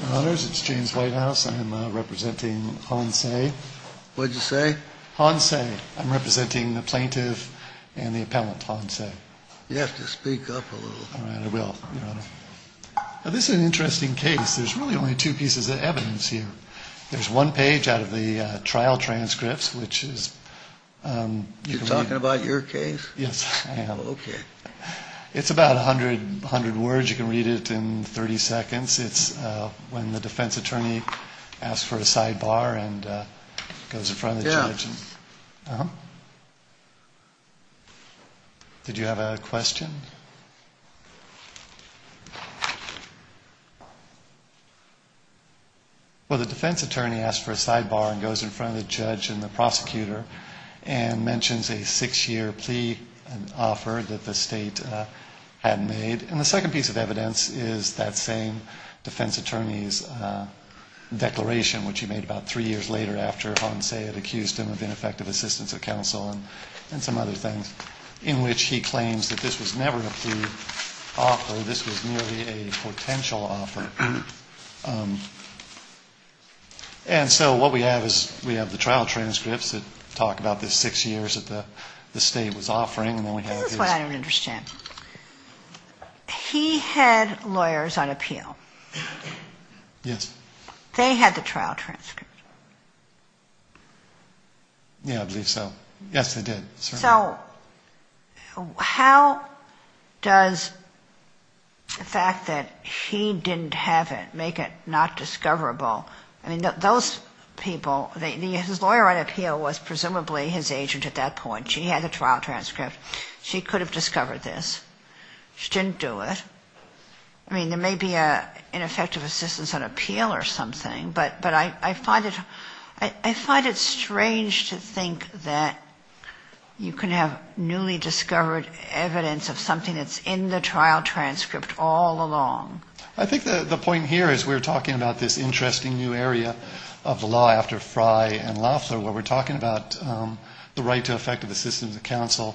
Your honors, it's James Whitehouse. I'm representing Han Tse. What did you say? Han Tse. I'm representing the plaintiff and the appellant, Han Tse. You have to speak up a little. All right, I will, your honor. Now this is an interesting case. There's really only two pieces of evidence here. There's one page out of the trial transcripts, which is... You're talking about your case? Yes, I am. Okay. It's about 100 words. You can read it in 30 seconds. It's when the defense attorney asks for a sidebar and goes in front of the judge. Yeah. Did you have a question? Well, the defense attorney asks for a sidebar and goes in front of the judge and the prosecutor and mentions a six-year plea offer that the state had made. And the second piece of evidence is that same defense attorney's declaration, which he made about three years later after Han Tse had accused him of ineffective assistance of counsel and some other things, in which he claims that this was never a plea offer. This was merely a potential offer. And so what we have is we have the trial transcripts that talk about the six years that the state was offering. This is what I don't understand. He had lawyers on appeal. Yes. They had the trial transcript. Yeah, I believe so. Yes, they did. So how does the fact that he didn't have it make it not discoverable? I mean, those people, his lawyer on appeal was presumably his agent at that point. She had the trial transcript. She could have discovered this. She didn't do it. I mean, there may be an ineffective assistance on appeal or something, but I find it strange to think that you can have newly discovered evidence of something that's in the trial transcript all along. I think the point here is we're talking about this interesting new area of the law after Frye and Loeffler where we're talking about the right to effective assistance of counsel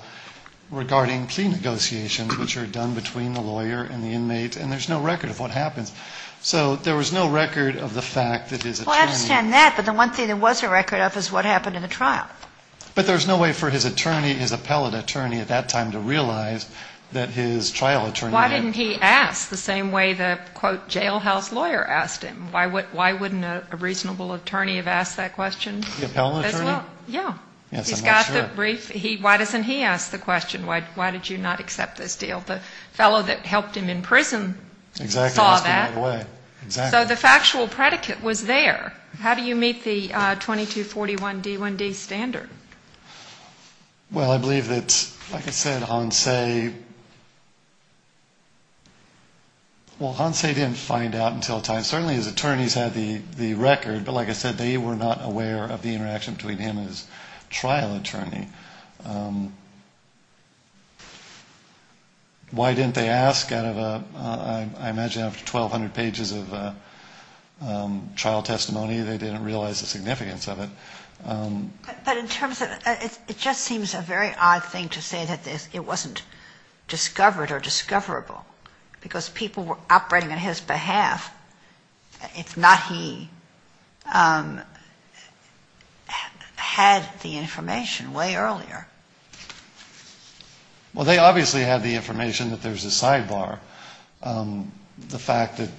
regarding plea negotiations, which are done between the lawyer and the inmate, and there's no record of what happens. So there was no record of the fact that his attorney... Well, I understand that, but the one thing there was a record of is what happened in the trial. But there's no way for his attorney, his appellate attorney at that time, to realize that his trial attorney... Why didn't he ask the same way the, quote, jailhouse lawyer asked him? Why wouldn't a reasonable attorney have asked that question as well? The appellate attorney? Yeah. Yes, I'm not sure. He's got the brief. Why doesn't he ask the question, why did you not accept this deal? The fellow that helped him in prison saw that. Exactly. So the factual predicate was there. How do you meet the 2241D1D standard? Well, I believe that, like I said, Hansay, well, Hansay didn't find out until a time. Certainly his attorneys had the record, but like I said, they were not aware of the interaction between him and his trial attorney. Why didn't they ask out of a, I imagine after 1,200 pages of trial testimony, they didn't realize the significance of it. But in terms of, it just seems a very odd thing to say that it wasn't discovered or discoverable, because people were operating on his behalf. If not, he had the information way earlier. Well, they obviously had the information that there's a sidebar. The fact that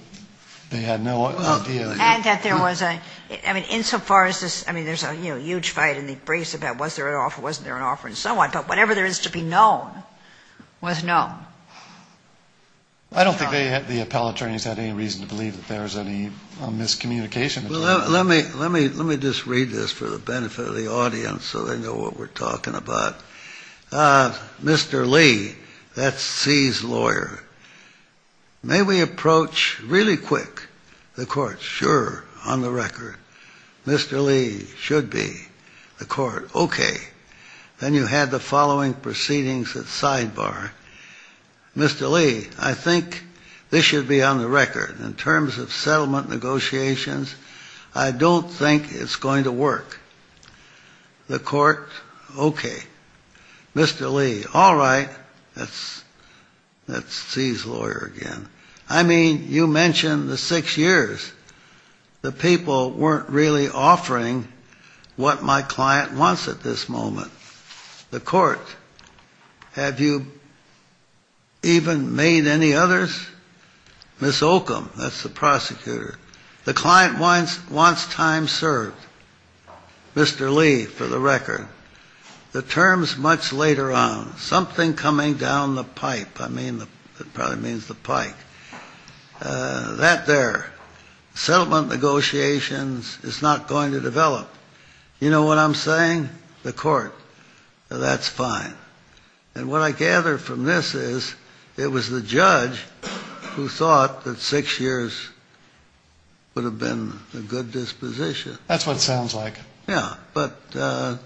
they had no idea. And that there was a, I mean, insofar as this, I mean, there's a huge fight in the briefs about was there an offer, wasn't there an offer, and so on, but whatever there is to be known was known. I don't think the appellate attorneys had any reason to believe that there was any miscommunication. Well, let me just read this for the benefit of the audience so they know what we're talking about. Mr. Lee, that's See's lawyer, may we approach really quick the court? Sure, on the record. Mr. Lee, should be, the court, okay. Then you had the following proceedings at sidebar. I don't think it's going to work. The court, okay. Mr. Lee, all right, that's See's lawyer again. I mean, you mentioned the six years. The people weren't really offering what my client wants at this moment. The court, have you even made any others? Ms. Oakum, that's the prosecutor. The client wants time served, Mr. Lee, for the record. The terms much later on, something coming down the pipe. I mean, it probably means the pike. That there, settlement negotiations is not going to develop. You know what I'm saying? The court, that's fine. And what I gather from this is it was the judge who thought that six years would have been a good disposition. That's what it sounds like. Yeah, but they,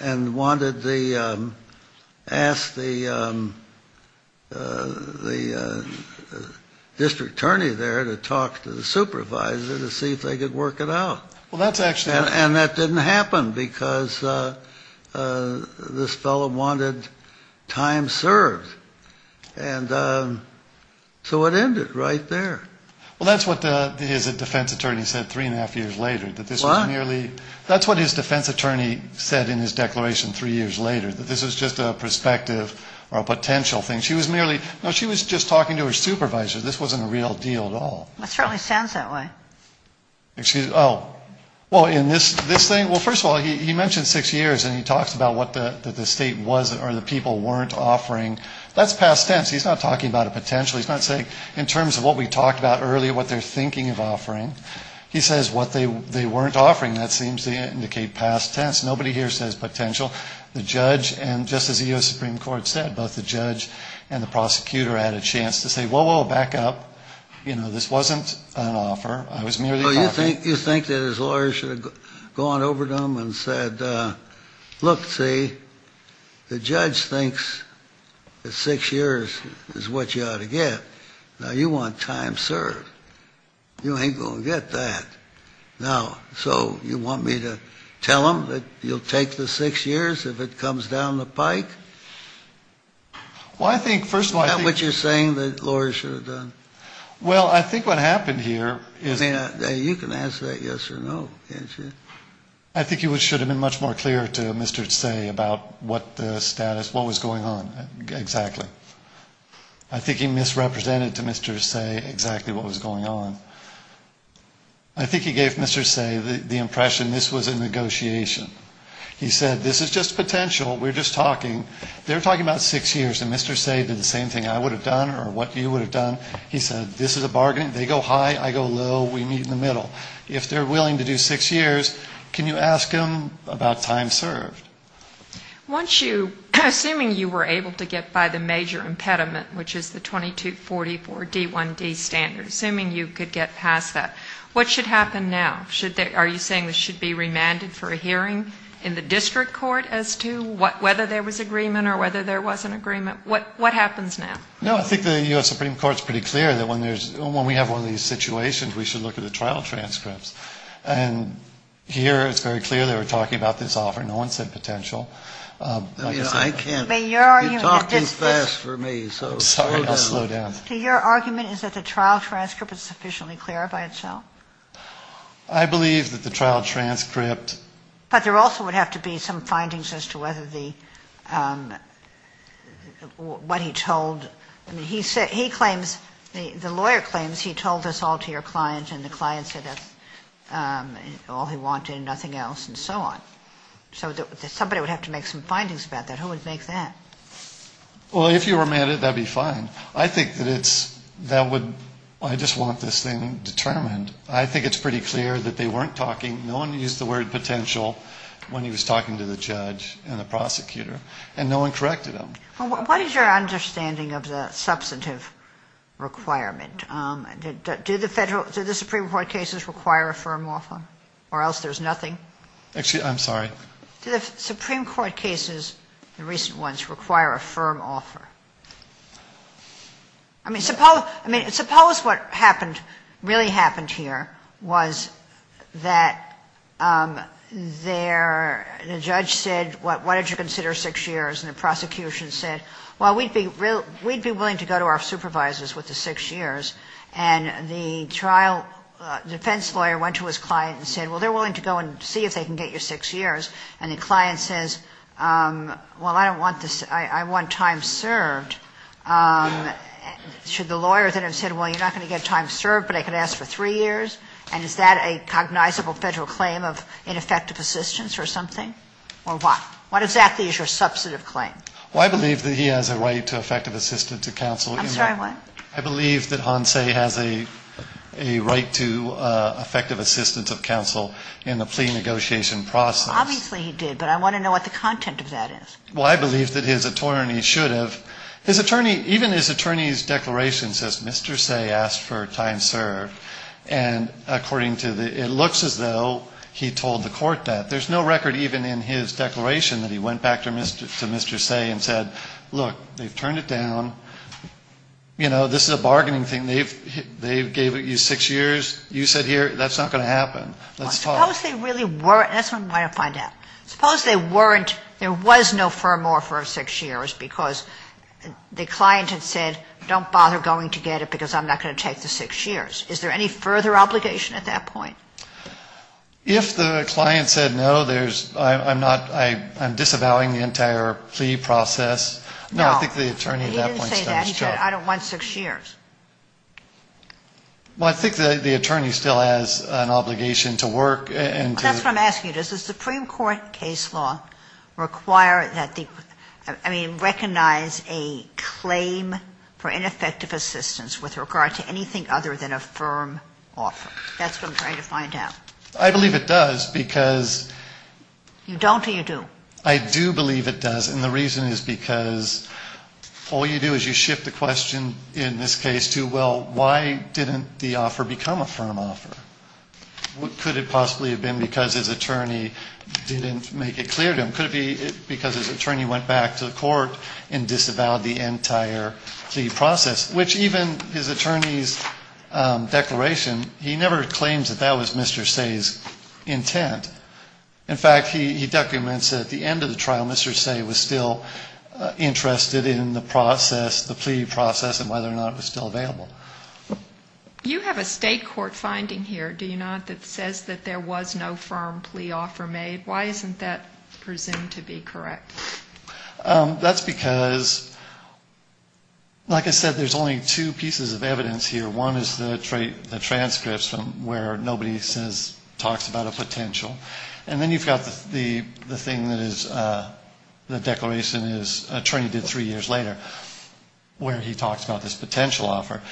and wanted the, asked the district attorney there to talk to the supervisor to see if they could work it out. Well, that's actually. And that didn't happen because this fellow wanted time served. And so it ended right there. Well, that's what his defense attorney said three and a half years later. That's what his defense attorney said in his declaration three years later, that this was just a perspective or a potential thing. She was merely, she was just talking to her supervisor. This wasn't a real deal at all. That certainly sounds that way. Well, first of all, he mentioned six years and he talks about what the state was or the people weren't offering. That's past tense. He's not talking about a potential. He's not saying in terms of what we talked about earlier, what they're thinking of offering. He says what they weren't offering. That seems to indicate past tense. Nobody here says potential. The judge, and just as the U.S. Supreme Court said, both the judge and the prosecutor had a chance to say, whoa, whoa, back up. You know, this wasn't an offer. You think that his lawyers should have gone over to him and said, look, see, the judge thinks that six years is what you ought to get. Now, you want time served. You ain't going to get that. Now, so you want me to tell him that you'll take the six years if it comes down the pike? Well, I think, first of all, I think. Is that what you're saying, that lawyers should have done? Well, I think what happened here is. I mean, you can answer that yes or no, can't you? I think it should have been much more clear to Mr. Say about what the status, what was going on exactly. I think he misrepresented to Mr. Say exactly what was going on. I think he gave Mr. Say the impression this was a negotiation. He said, this is just potential. We're just talking, they're talking about six years, and Mr. Say did the same thing I would have done or what you would have done. He said, this is a bargain. They go high, I go low, we meet in the middle. If they're willing to do six years, can you ask them about time served? Once you, assuming you were able to get by the major impediment, which is the 2244D1D standard, assuming you could get past that, what should happen now? Are you saying this should be remanded for a hearing in the district court as to whether there was agreement or whether there wasn't agreement? What happens now? No, I think the U.S. Supreme Court is pretty clear that when we have one of these situations, we should look at the trial transcripts. And here it's very clear they were talking about this offer. No one said potential. I can't, you talk too fast for me. Your argument is that the trial transcript is sufficiently clear by itself? I believe that the trial transcript. But there also would have to be some findings as to whether the, what he told, he claims, the lawyer claims he told this all to your client and the client said that's all he wanted and nothing else and so on. So somebody would have to make some findings about that. Who would make that? Well, if you remanded, that would be fine. I think that it's, that would, I just want this thing determined. I think it's pretty clear that they weren't talking. No one used the word potential when he was talking to the judge and the prosecutor and no one corrected him. Well, what is your understanding of the substantive requirement? Do the federal, do the Supreme Court cases require a firm offer or else there's nothing? Actually, I'm sorry. Do the Supreme Court cases, the recent ones, require a firm offer? I mean, suppose, I mean, suppose what happened, really happened here was that their, the judge said, what did you consider six years and the prosecution said six years. Well, we'd be willing to go to our supervisors with the six years and the trial defense lawyer went to his client and said, well, they're willing to go and see if they can get you six years. And the client says, well, I don't want this, I want time served. Should the lawyer then have said, well, you're not going to get time served, but I could ask for three years and is that a cognizable federal claim of ineffective assistance or something or what? What exactly is your substantive claim? Well, I believe that he has a right to effective assistance of counsel. I'm sorry, what? I believe that Hansay has a right to effective assistance of counsel in the plea negotiation process. Obviously he did, but I want to know what the content of that is. Well, I believe that his attorney should have, his attorney, even his attorney's declaration says Mr. Say asked for time served and according to the, it looks as though he told the court that. There's no record even in his declaration that he went back to Mr. Say and said, look, they've turned it down, you know, this is a bargaining thing, they gave you six years, you sit here, that's not going to happen. Suppose they really weren't, that's what I want to find out, suppose they weren't, there was no firm offer of six years because the client had said don't bother going to get it because I'm not going to take the six years. Is there any further obligation at that point? If the client said no, I'm disavowing the entire plea process. No, he didn't say that, he said I don't want six years. Well, I think the attorney still has an obligation to work and to... That's what I'm asking you, does the Supreme Court case law require that the, I mean, recognize a claim for ineffective assistance with regard to anything other than a firm offer? That's what I'm trying to find out. I believe it does because... You don't or you do? I do believe it does and the reason is because all you do is you shift the question in this case to, well, why didn't the offer become a firm offer? Could it possibly have been because his attorney didn't make it clear to him? Could it be because his attorney went back to the court and disavowed the entire plea process, which even his attorney's declaration, he never claims that that was Mr. Say's intent. In fact, he documents that at the end of the trial, Mr. Say was still interested in the process, the plea process and whether or not it was still available. You have a state court finding here, do you not, that says that there was no firm plea offer made? Why isn't that presumed to be correct? That's because, like I said, there's only two pieces of evidence here. One is the transcripts where nobody says, talks about a potential. And then you've got the thing that is the declaration his attorney did three years later where he talks about this potential offer.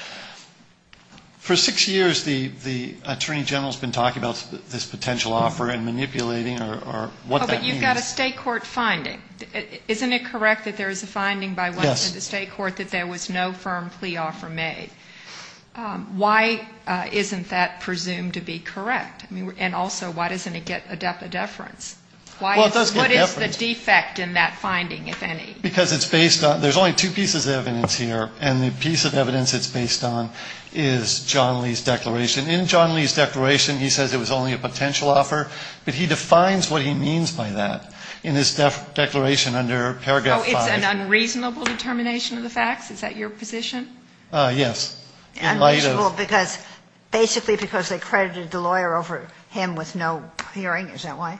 For six years the attorney general's been talking about this potential offer and manipulating or what that means. But you've got a state court finding. Isn't it correct that there is a finding by the state court that there was no firm plea offer made? Why isn't that presumed to be correct? And also, why doesn't it get a deference? What is the defect in that finding, if any? Because it's based on, there's only two pieces of evidence here, and the piece of evidence it's based on is John Lee's declaration. In John Lee's declaration, he says it was only a potential offer. But he defines what he means by that in his declaration under paragraph 5. Oh, it's an unreasonable determination of the facts? Is that your position? Yes. Unreasonable because, basically because they credited the lawyer over him with no hearing, is that why?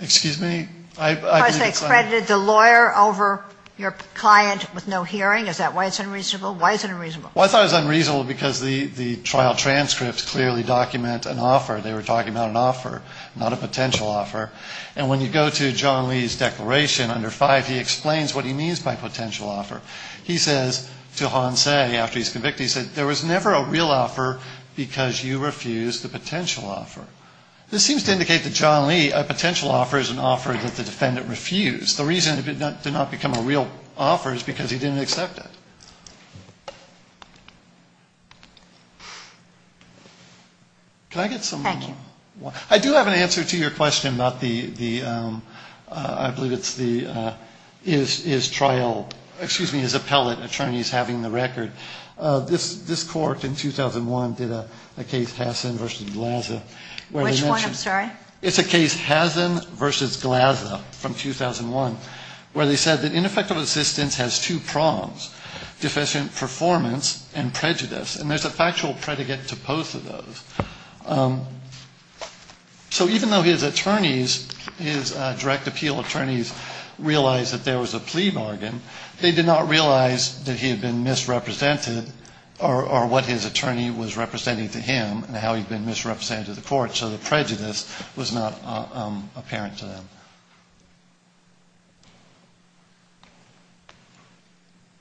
Excuse me? Because they credited the lawyer over your client with no hearing, is that why it's unreasonable? Why is it unreasonable? Well, I thought it was unreasonable because the trial transcripts clearly document an offer. They were talking about an offer, not a potential offer. And when you go to John Lee's declaration under 5, he explains what he means by potential offer. He says to Hansay, after he's convicted, he said there was never a real offer because you refused the potential offer. This seems to indicate that John Lee, a potential offer is an offer that the defendant refused. The reason it did not become a real offer is because he didn't accept it. Can I get some more? Thank you. I do have an answer to your question about the, I believe it's the, his trial, excuse me, his appellate attorney's having the record. This court in 2001 did a case, Hassen v. Glaza. Which one, I'm sorry? It's a case, Hassen v. Glaza from 2001, where they said that ineffective assistance has two prongs, deficient performance and prejudice. And there's a factual predicate to both of those. So even though his attorneys, his direct appeal attorneys realized that there was a plea bargain, they did not realize that he had been misrepresented or what his attorney was representing to him and how he'd been misrepresented to the court. So the prejudice was not apparent to them.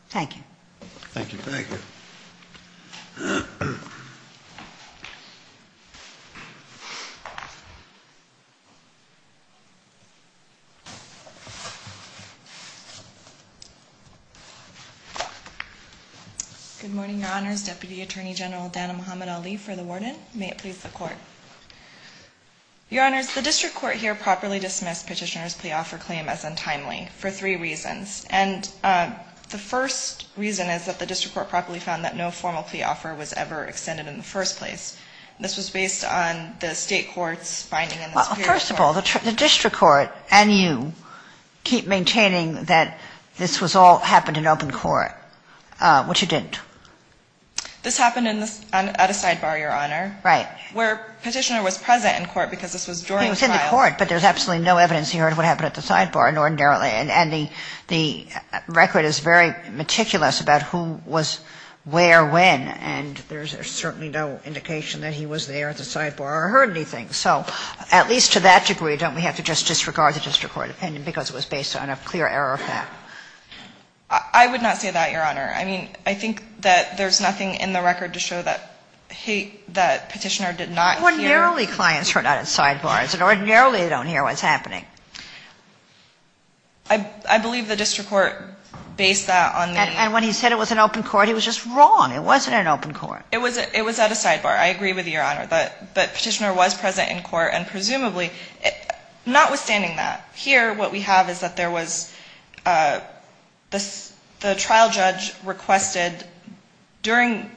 Thank you. Thank you. Good morning, Your Honors. Deputy Attorney General Dana Muhammad Ali for the warden. May it please the court. Your Honors, the district court here properly dismissed Petitioner's plea offer claim as untimely for three reasons. And the first reason is that the district court properly found that no formal plea offer was ever extended in the first place. This was based on the state court's finding in the superior court. Well, first of all, the district court and you keep maintaining that this was all happened in open court, which it didn't. This happened in the, at a sidebar, Your Honor. Right. Where Petitioner was present in court because this was during trial. He was in the court, but there's absolutely no evidence he heard what happened at the sidebar, and the record is very meticulous about who was where when. And there's certainly no indication that he was there at the sidebar or heard anything. So at least to that degree, don't we have to just disregard the district court opinion because it was based on a clear error of fact? I would not say that, Your Honor. I mean, I think that there's nothing in the record to show that Petitioner did not hear. Ordinarily clients are not at sidebars, and ordinarily they don't hear what's happening. I believe the district court based that on the... And when he said it was in open court, he was just wrong. It wasn't in open court. It was at a sidebar. I agree with you, Your Honor. But Petitioner was present in court, and presumably, notwithstanding that, here what we have is that there was the trial judge requested during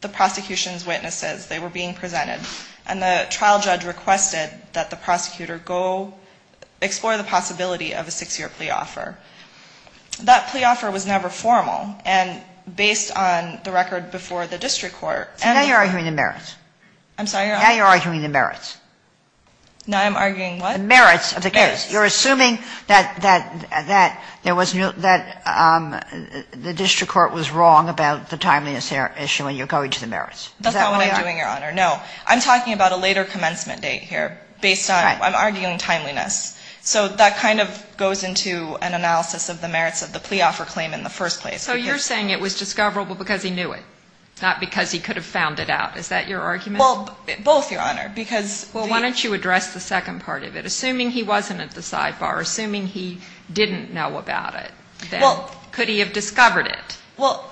the prosecution's witnesses, they were being presented, and the trial judge requested that the prosecutor go explore the possibility of a six-year plea offer. That plea offer was never formal, and based on the record before the district court... Now you're arguing the merits. Now I'm arguing what? The merits of the case. You're assuming that the district court was wrong about the timeliness issue, and you're going to the merits. That's not what I'm doing, Your Honor. No. I'm talking about a later commencement date here based on, I'm arguing timeliness. So that kind of goes into an analysis of the merits of the plea offer claim in the first place. So you're saying it was discoverable because he knew it, not because he could have found it out. Is that your argument? Well, both, Your Honor, because... Well, why don't you address the second part of it? Assuming he wasn't at the sidebar, assuming he didn't know about it, then could he have discovered it? Well,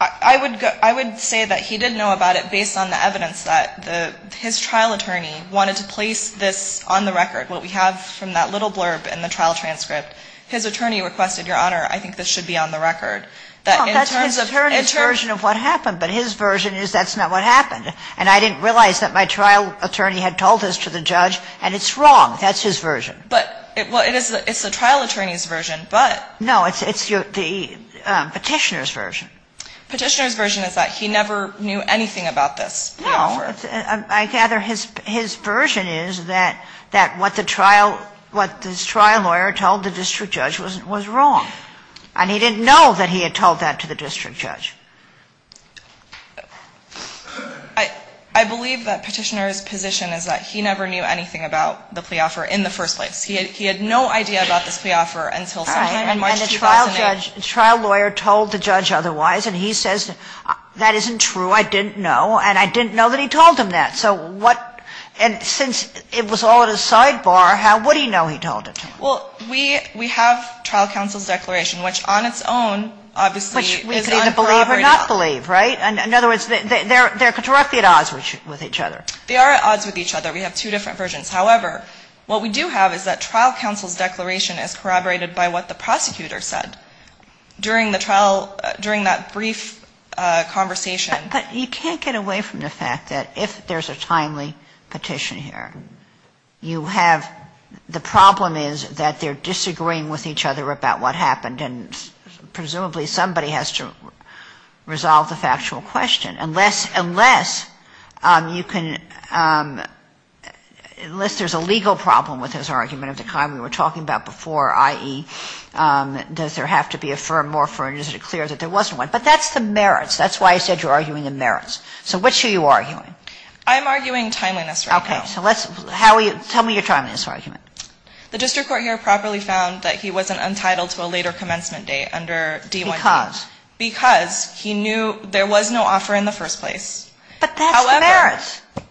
I would say that he did know about it based on the evidence that his trial attorney wanted to place this on the record, what we have from that little blurb in the trial transcript. His attorney requested, Your Honor, I think this should be on the record. Well, that's his attorney's version of what happened, but his version is that's not what happened. And I didn't realize that my trial attorney had told this to the judge, and it's wrong. That's his version. But it's the trial attorney's version, but... No, it's the Petitioner's version. Petitioner's version is that he never knew anything about this plea offer. No. I gather his version is that what the trial lawyer told the district judge was wrong, and he didn't know that he had told that to the district judge. I believe that Petitioner's position is that he never knew anything about the plea offer in the first place. He had no idea about this plea offer until sometime in March 2008. The trial lawyer told the judge otherwise, and he says that isn't true, I didn't know, and I didn't know that he told him that. So what, and since it was all at a sidebar, how would he know he told it to him? Well, we have trial counsel's declaration, which on its own obviously is uncorroborated. Which we can either believe or not believe, right? In other words, they're at odds with each other. They are at odds with each other. We have two different versions. However, what we do have is that trial counsel's declaration is corroborated by what the prosecutor said during the trial, during that brief conversation. But you can't get away from the fact that if there's a timely petition here, you have, the problem is that they're disagreeing with each other about what happened, and presumably somebody has to resolve the factual question. Unless, unless you can, unless there's a legal problem with his argument of the kind we were talking about before, i.e., does there have to be a firm more firm, is it clear that there wasn't one? But that's the merits. That's why I said you're arguing the merits. So which are you arguing? I'm arguing timeliness right now. Okay. So let's, how are you, tell me your timeliness argument. The district court here properly found that he wasn't entitled to a later commencement date under D-1B. Because? Because he knew there was no offer in the first place. But that's the merits. However,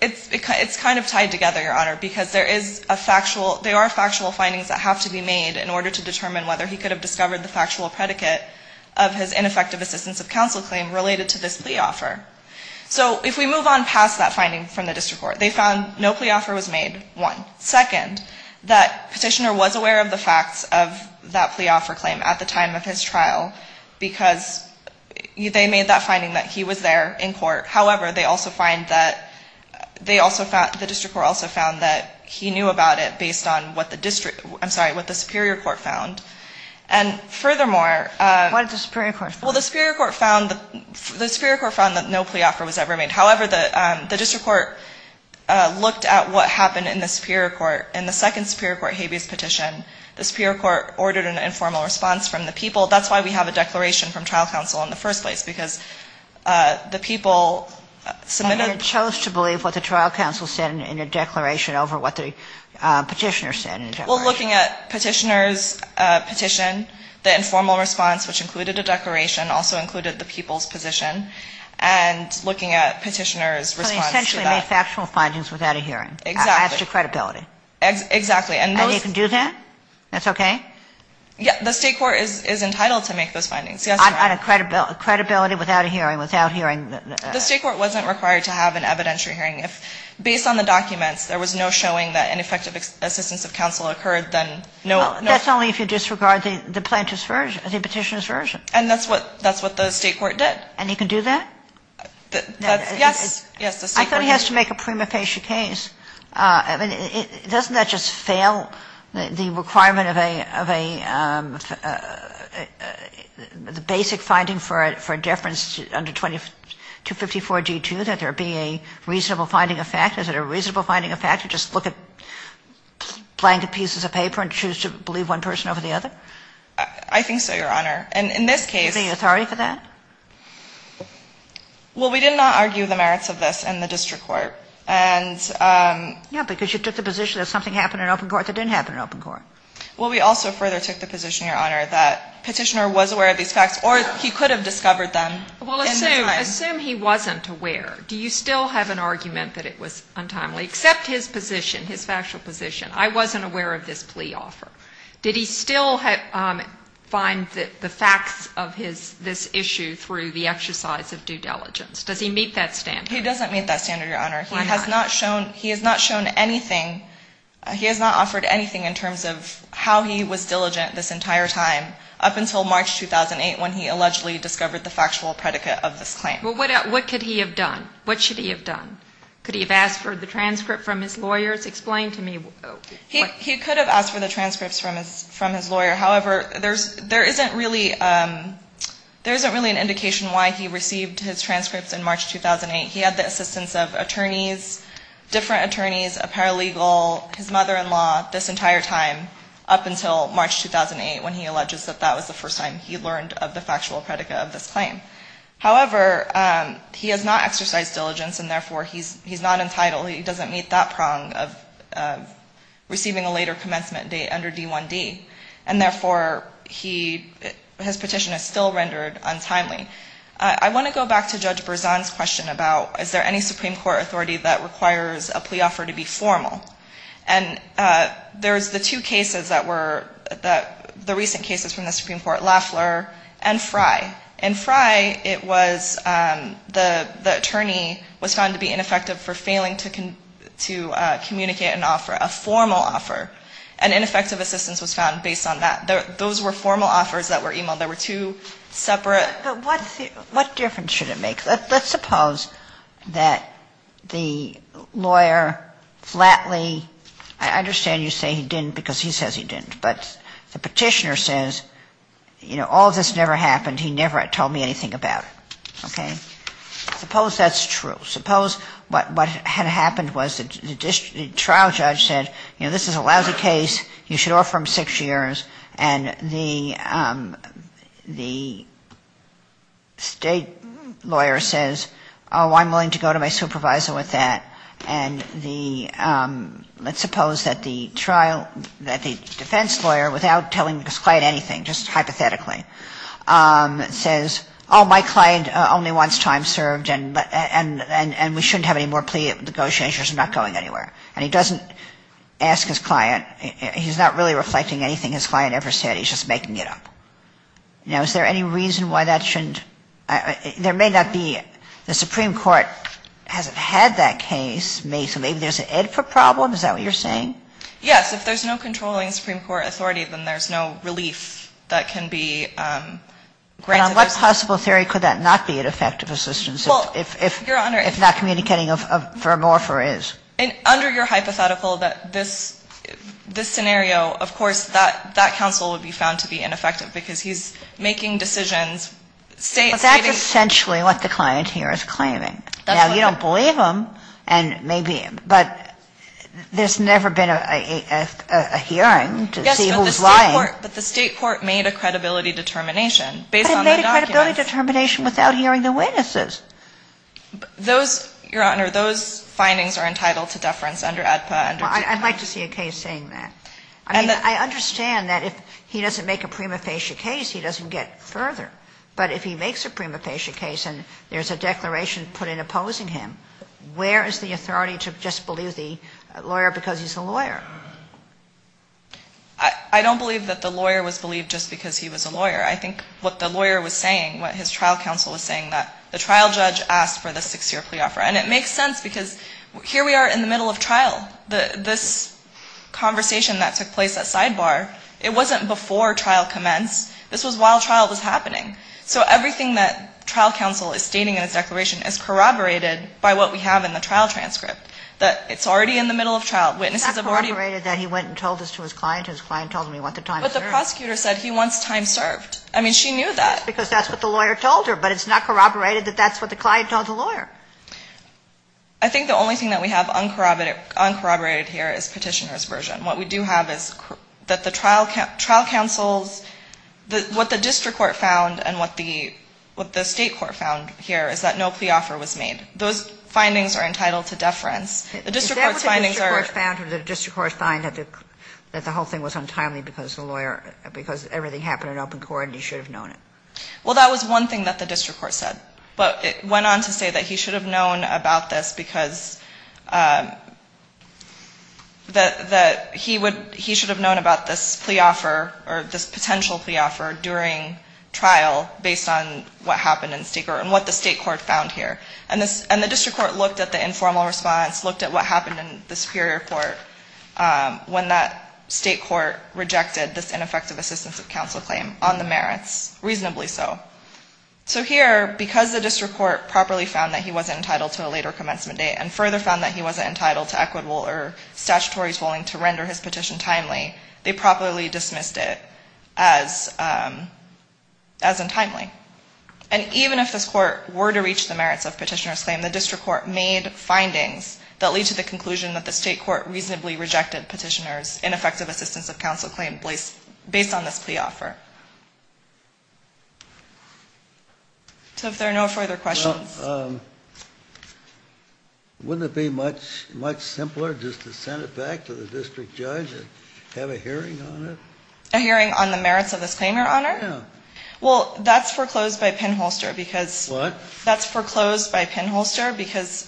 it's kind of tied together, Your Honor, because there is a factual, there are factual findings that have to be made in order to determine whether he could have discovered the factual predicate of his ineffective assistance of counsel claim related to this plea offer. So if we move on past that finding from the district court, they found no plea offer was made, one. Second, that petitioner was aware of the facts of that plea offer claim at the time of his trial, because they made that finding that he was there, in court. However, they also find that, they also found, the district court also found that he knew about it based on what the district, I'm sorry, what the superior court found. And furthermore. What did the superior court find? Well, the superior court found, the superior court found that no plea offer was ever made. However, the district court looked at what happened in the superior court. In the second superior court habeas petition, the superior court ordered an informal response from the people. That's why we have a declaration from trial counsel in the first place, because the people submitted. And they chose to believe what the trial counsel said in a declaration over what the petitioner said in a declaration. Well, looking at petitioner's petition, the informal response, which included a declaration, also included the people's position. And looking at petitioner's response to that. So they essentially made factual findings without a hearing. Exactly. After credibility. Exactly. And you can do that? That's okay? The state court is entitled to make those findings. On credibility without a hearing, without hearing. The state court wasn't required to have an evidentiary hearing. Based on the documents, there was no showing that an effective assistance of counsel occurred. That's only if you disregard the petitioner's version. And that's what the state court did. And you can do that? Yes. I thought he has to make a prima facie case. Doesn't that just fail the requirement of a basic finding for deference under 254G2, that there be a reasonable finding of fact? Is it a reasonable finding of fact to just look at blanket pieces of paper and choose to believe one person over the other? I think so, Your Honor. And in this case. Is there authority for that? Well, we did not argue the merits of this in the district court. Yeah, because you took the position that something happened in open court that didn't happen in open court. Well, we also further took the position, Your Honor, that petitioner was aware of these facts or he could have discovered them. Well, assume he wasn't aware. Do you still have an argument that it was untimely? Except his position, his factual position. I wasn't aware of this plea offer. Did he still find the facts of this issue through the exercise of due diligence? Does he meet that standard? He doesn't meet that standard, Your Honor. Why not? He has not shown anything. He has not offered anything in terms of how he was diligent this entire time up until March 2008 when he allegedly discovered the factual predicate of this claim. Well, what could he have done? What should he have done? Could he have asked for the transcript from his lawyers? Explain to me. He could have asked for the transcripts from his lawyer. However, there isn't really an indication why he received his transcripts in March 2008. He had the assistance of attorneys, different attorneys, a paralegal, his mother-in-law this entire time up until March 2008 when he alleges that that was the first time he learned of the factual predicate of this claim. However, he has not exercised diligence and, therefore, he's not entitled. He doesn't meet that prong of receiving a later commencement date under D1D. And, therefore, his petition is still rendered untimely. I want to go back to Judge Berzon's question about is there any Supreme Court authority that requires a plea offer to be formal. And there's the two cases that were the recent cases from the Supreme Court, Lafler and Frye. In Frye, it was the attorney was found to be ineffective for failing to communicate an offer, a formal offer. And ineffective assistance was found based on that. Those were formal offers that were e-mailed. They were two separate. But what difference should it make? Let's suppose that the lawyer flatly, I understand you say he didn't because he says he didn't. But the petitioner says, you know, all of this never happened. He never told me anything about it. Okay? Suppose that's true. Suppose what had happened was the trial judge said, you know, this is a lousy case. You should offer him six years. And the state lawyer says, oh, I'm willing to go to my supervisor with that. And the, let's suppose that the trial, that the defense lawyer without telling his client anything, just hypothetically, says, oh, my client only wants time served and we shouldn't have any more plea negotiations. I'm not going anywhere. And he doesn't ask his client. He's not really reflecting anything his client ever said. He's just making it up. Now, is there any reason why that shouldn't, there may not be. The Supreme Court hasn't had that case. Maybe there's an input problem. Is that what you're saying? Yes. If there's no controlling Supreme Court authority, then there's no relief that can be granted. But on what possible theory could that not be an effective assistance if not communicating a vermor for is? Under your hypothetical, this scenario, of course, that counsel would be found to be ineffective because he's making decisions. But that's essentially what the client here is claiming. Now, you don't believe him, and maybe, but there's never been a hearing to see who's lying. Yes, but the State court made a credibility determination based on the documents. But it made a credibility determination without hearing the witnesses. Those, Your Honor, those findings are entitled to deference under ADPA. Well, I'd like to see a case saying that. I mean, I understand that if he doesn't make a prima facie case, he doesn't get further. But if he makes a prima facie case and there's a declaration put in opposing him, where is the authority to just believe the lawyer because he's a lawyer? I don't believe that the lawyer was believed just because he was a lawyer. I think what the lawyer was saying, what his trial counsel was saying, that the trial judge asked for the six-year plea offer. And it makes sense because here we are in the middle of trial. This conversation that took place at Sidebar, it wasn't before trial commenced. This was while trial was happening. So everything that trial counsel is stating in his declaration is corroborated by what we have in the trial transcript, that it's already in the middle of trial. Witnesses have already been ---- It's not corroborated that he went and told this to his client and his client told him he wants the time served. But the prosecutor said he wants time served. I mean, she knew that. Because that's what the lawyer told her. But it's not corroborated that that's what the client told the lawyer. I think the only thing that we have uncorroborated here is Petitioner's version. What we do have is that the trial counsel's ---- What the district court found and what the state court found here is that no plea offer was made. Those findings are entitled to deference. The district court's findings are ---- Is that what the district court found or did the district court find that the whole thing was untimely because the lawyer ---- because everything happened in open court and he should have known it? Well, that was one thing that the district court said. But it went on to say that he should have known about this because that he would ---- he should have known about this plea offer or this potential plea offer during trial based on what happened in state court and what the state court found here. And the district court looked at the informal response, looked at what happened in the superior court when that state court rejected this ineffective assistance of counsel claim on the merits, reasonably so. So here, because the district court properly found that he wasn't entitled to a later commencement date and further found that he wasn't entitled to equitable or statutory to render his petition timely, they properly dismissed it as untimely. And even if this court were to reach the merits of Petitioner's Claim, the district court made findings that lead to the conclusion that the state court reasonably rejected Petitioner's ineffective assistance of counsel claim based on this plea offer. So if there are no further questions. Wouldn't it be much simpler just to send it back to the district judge and have a hearing on it? A hearing on the merits of this claim, Your Honor? Yeah. Well, that's foreclosed by pinholster because ---- What? That's foreclosed by pinholster because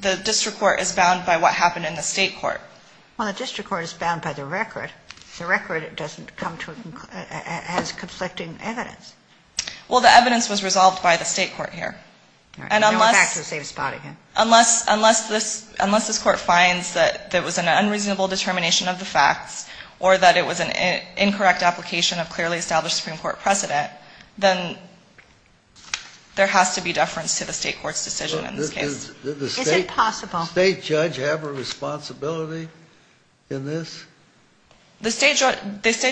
the district court is bound by what happened in the state court. Well, the district court is bound by the record. The record doesn't come to a ---- as conflicting evidence. Well, the evidence was resolved by the state court here. And unless ---- All right. We're back to the same spot again. Unless this court finds that there was an unreasonable determination of the facts or that it was an incorrect application of clearly established Supreme Court precedent, then there has to be deference to the state court's decision in this case. Is it possible ---- Does the state judge have a responsibility in this? The state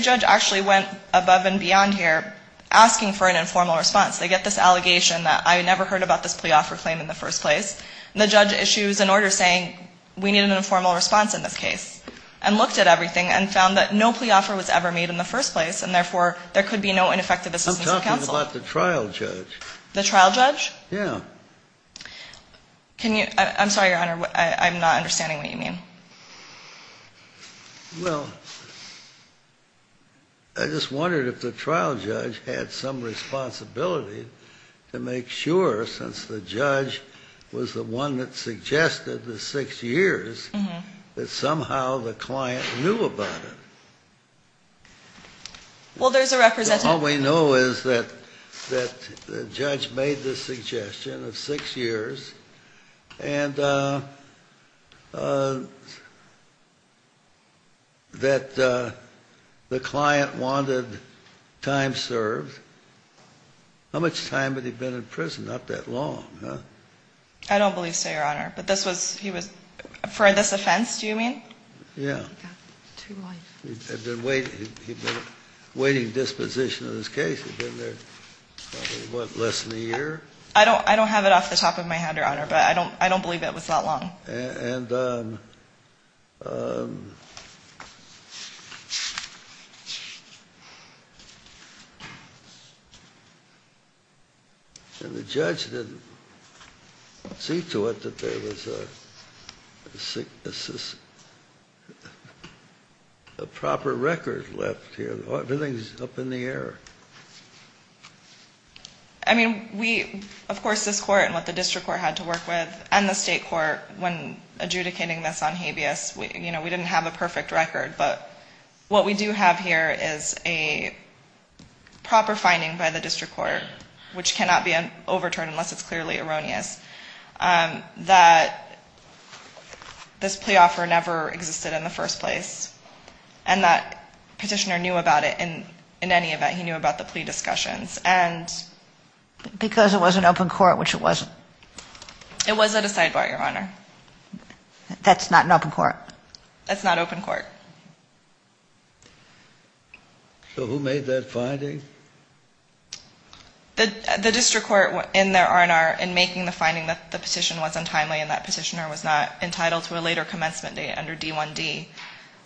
judge actually went above and beyond here asking for an informal response. They get this allegation that I never heard about this plea offer claim in the first place. And the judge issues an order saying we need an informal response in this case and looked at everything and found that no plea offer was ever made in the first place, and therefore there could be no ineffective assistance of counsel. I'm talking about the trial judge. The trial judge? Yeah. Can you ---- I'm sorry, Your Honor. I'm not understanding what you mean. Well, I just wondered if the trial judge had some responsibility to make sure, since the judge was the one that suggested the six years, that somehow the client knew about it. Well, there's a representative ---- All we know is that the judge made the suggestion of six years and that the client wanted time served. How much time had he been in prison? Not that long, huh? I don't believe so, Your Honor. But this was ---- he was ---- for this offense, do you mean? Yeah. He got two life sentences. He'd been waiting disposition of his case. He'd been there probably, what, less than a year? I don't have it off the top of my head, Your Honor, but I don't believe it was that long. And the judge didn't see to it that there was a proper record left here. Everything's up in the air. I mean, we, of course, this court and what the district court had to work with and the state court when adjudicating this on habeas, you know, we didn't have a perfect record, but what we do have here is a proper finding by the district court, which cannot be overturned unless it's clearly erroneous, that this plea offer never existed in the first place and that petitioner knew about it in any event. He knew about the plea discussions and ---- Because it was an open court, which it wasn't. It was at a sidebar, Your Honor. That's not an open court. That's not open court. So who made that finding? The district court in their R&R in making the finding that the petition was untimely and that petitioner was not entitled to a later commencement date under D1D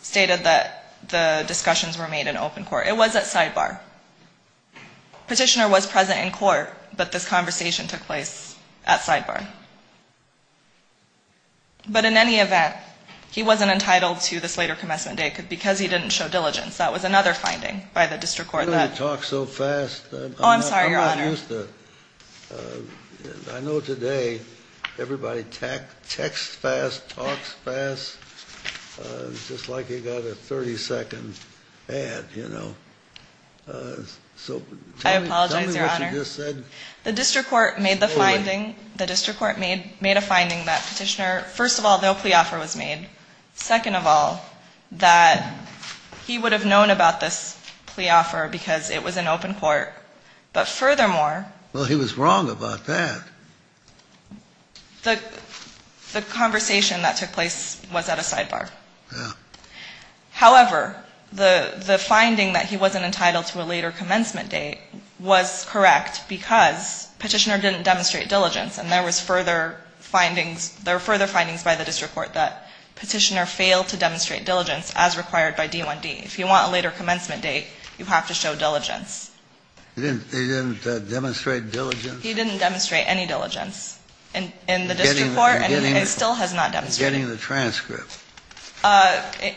stated that the discussions were made in open court. It was at sidebar. Petitioner was present in court, but this conversation took place at sidebar. But in any event, he wasn't entitled to this later commencement date because he didn't show diligence. That was another finding by the district court that ---- Why don't you talk so fast? Oh, I'm sorry, Your Honor. I'm not used to ---- I know today everybody texts fast, talks fast, just like you got a 30-second ad, you know. So tell me what you just said. I apologize, Your Honor. The district court made the finding, the district court made a finding that petitioner, first of all, no plea offer was made. Second of all, that he would have known about this plea offer because it was in open court. But furthermore ---- Well, he was wrong about that. The conversation that took place was at a sidebar. Yeah. However, the finding that he wasn't entitled to a later commencement date was correct because petitioner didn't demonstrate diligence. And there was further findings by the district court that petitioner failed to demonstrate diligence as required by D1D. If you want a later commencement date, you have to show diligence. He didn't demonstrate diligence? He didn't demonstrate any diligence in the district court and still has not demonstrated. Getting the transcript.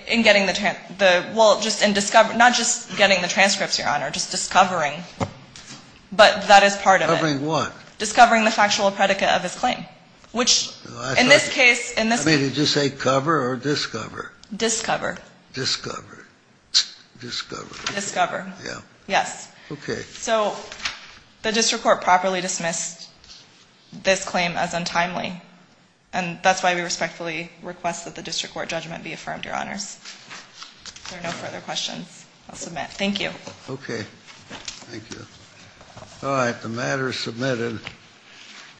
In getting the ---- well, just in discovery. Not just getting the transcripts, Your Honor, just discovering. But that is part of it. Discovering what? Discovering the factual predicate of his claim, which in this case ---- I mean, did you say cover or discover? Discover. Discover. Discover. Discover. Yeah. Yes. Okay. So the district court properly dismissed this claim as untimely. And that's why we respectfully request that the district court judgment be affirmed, Your Honors. If there are no further questions, I'll submit. Thank you. Okay. Thank you. All right. The matter is submitted.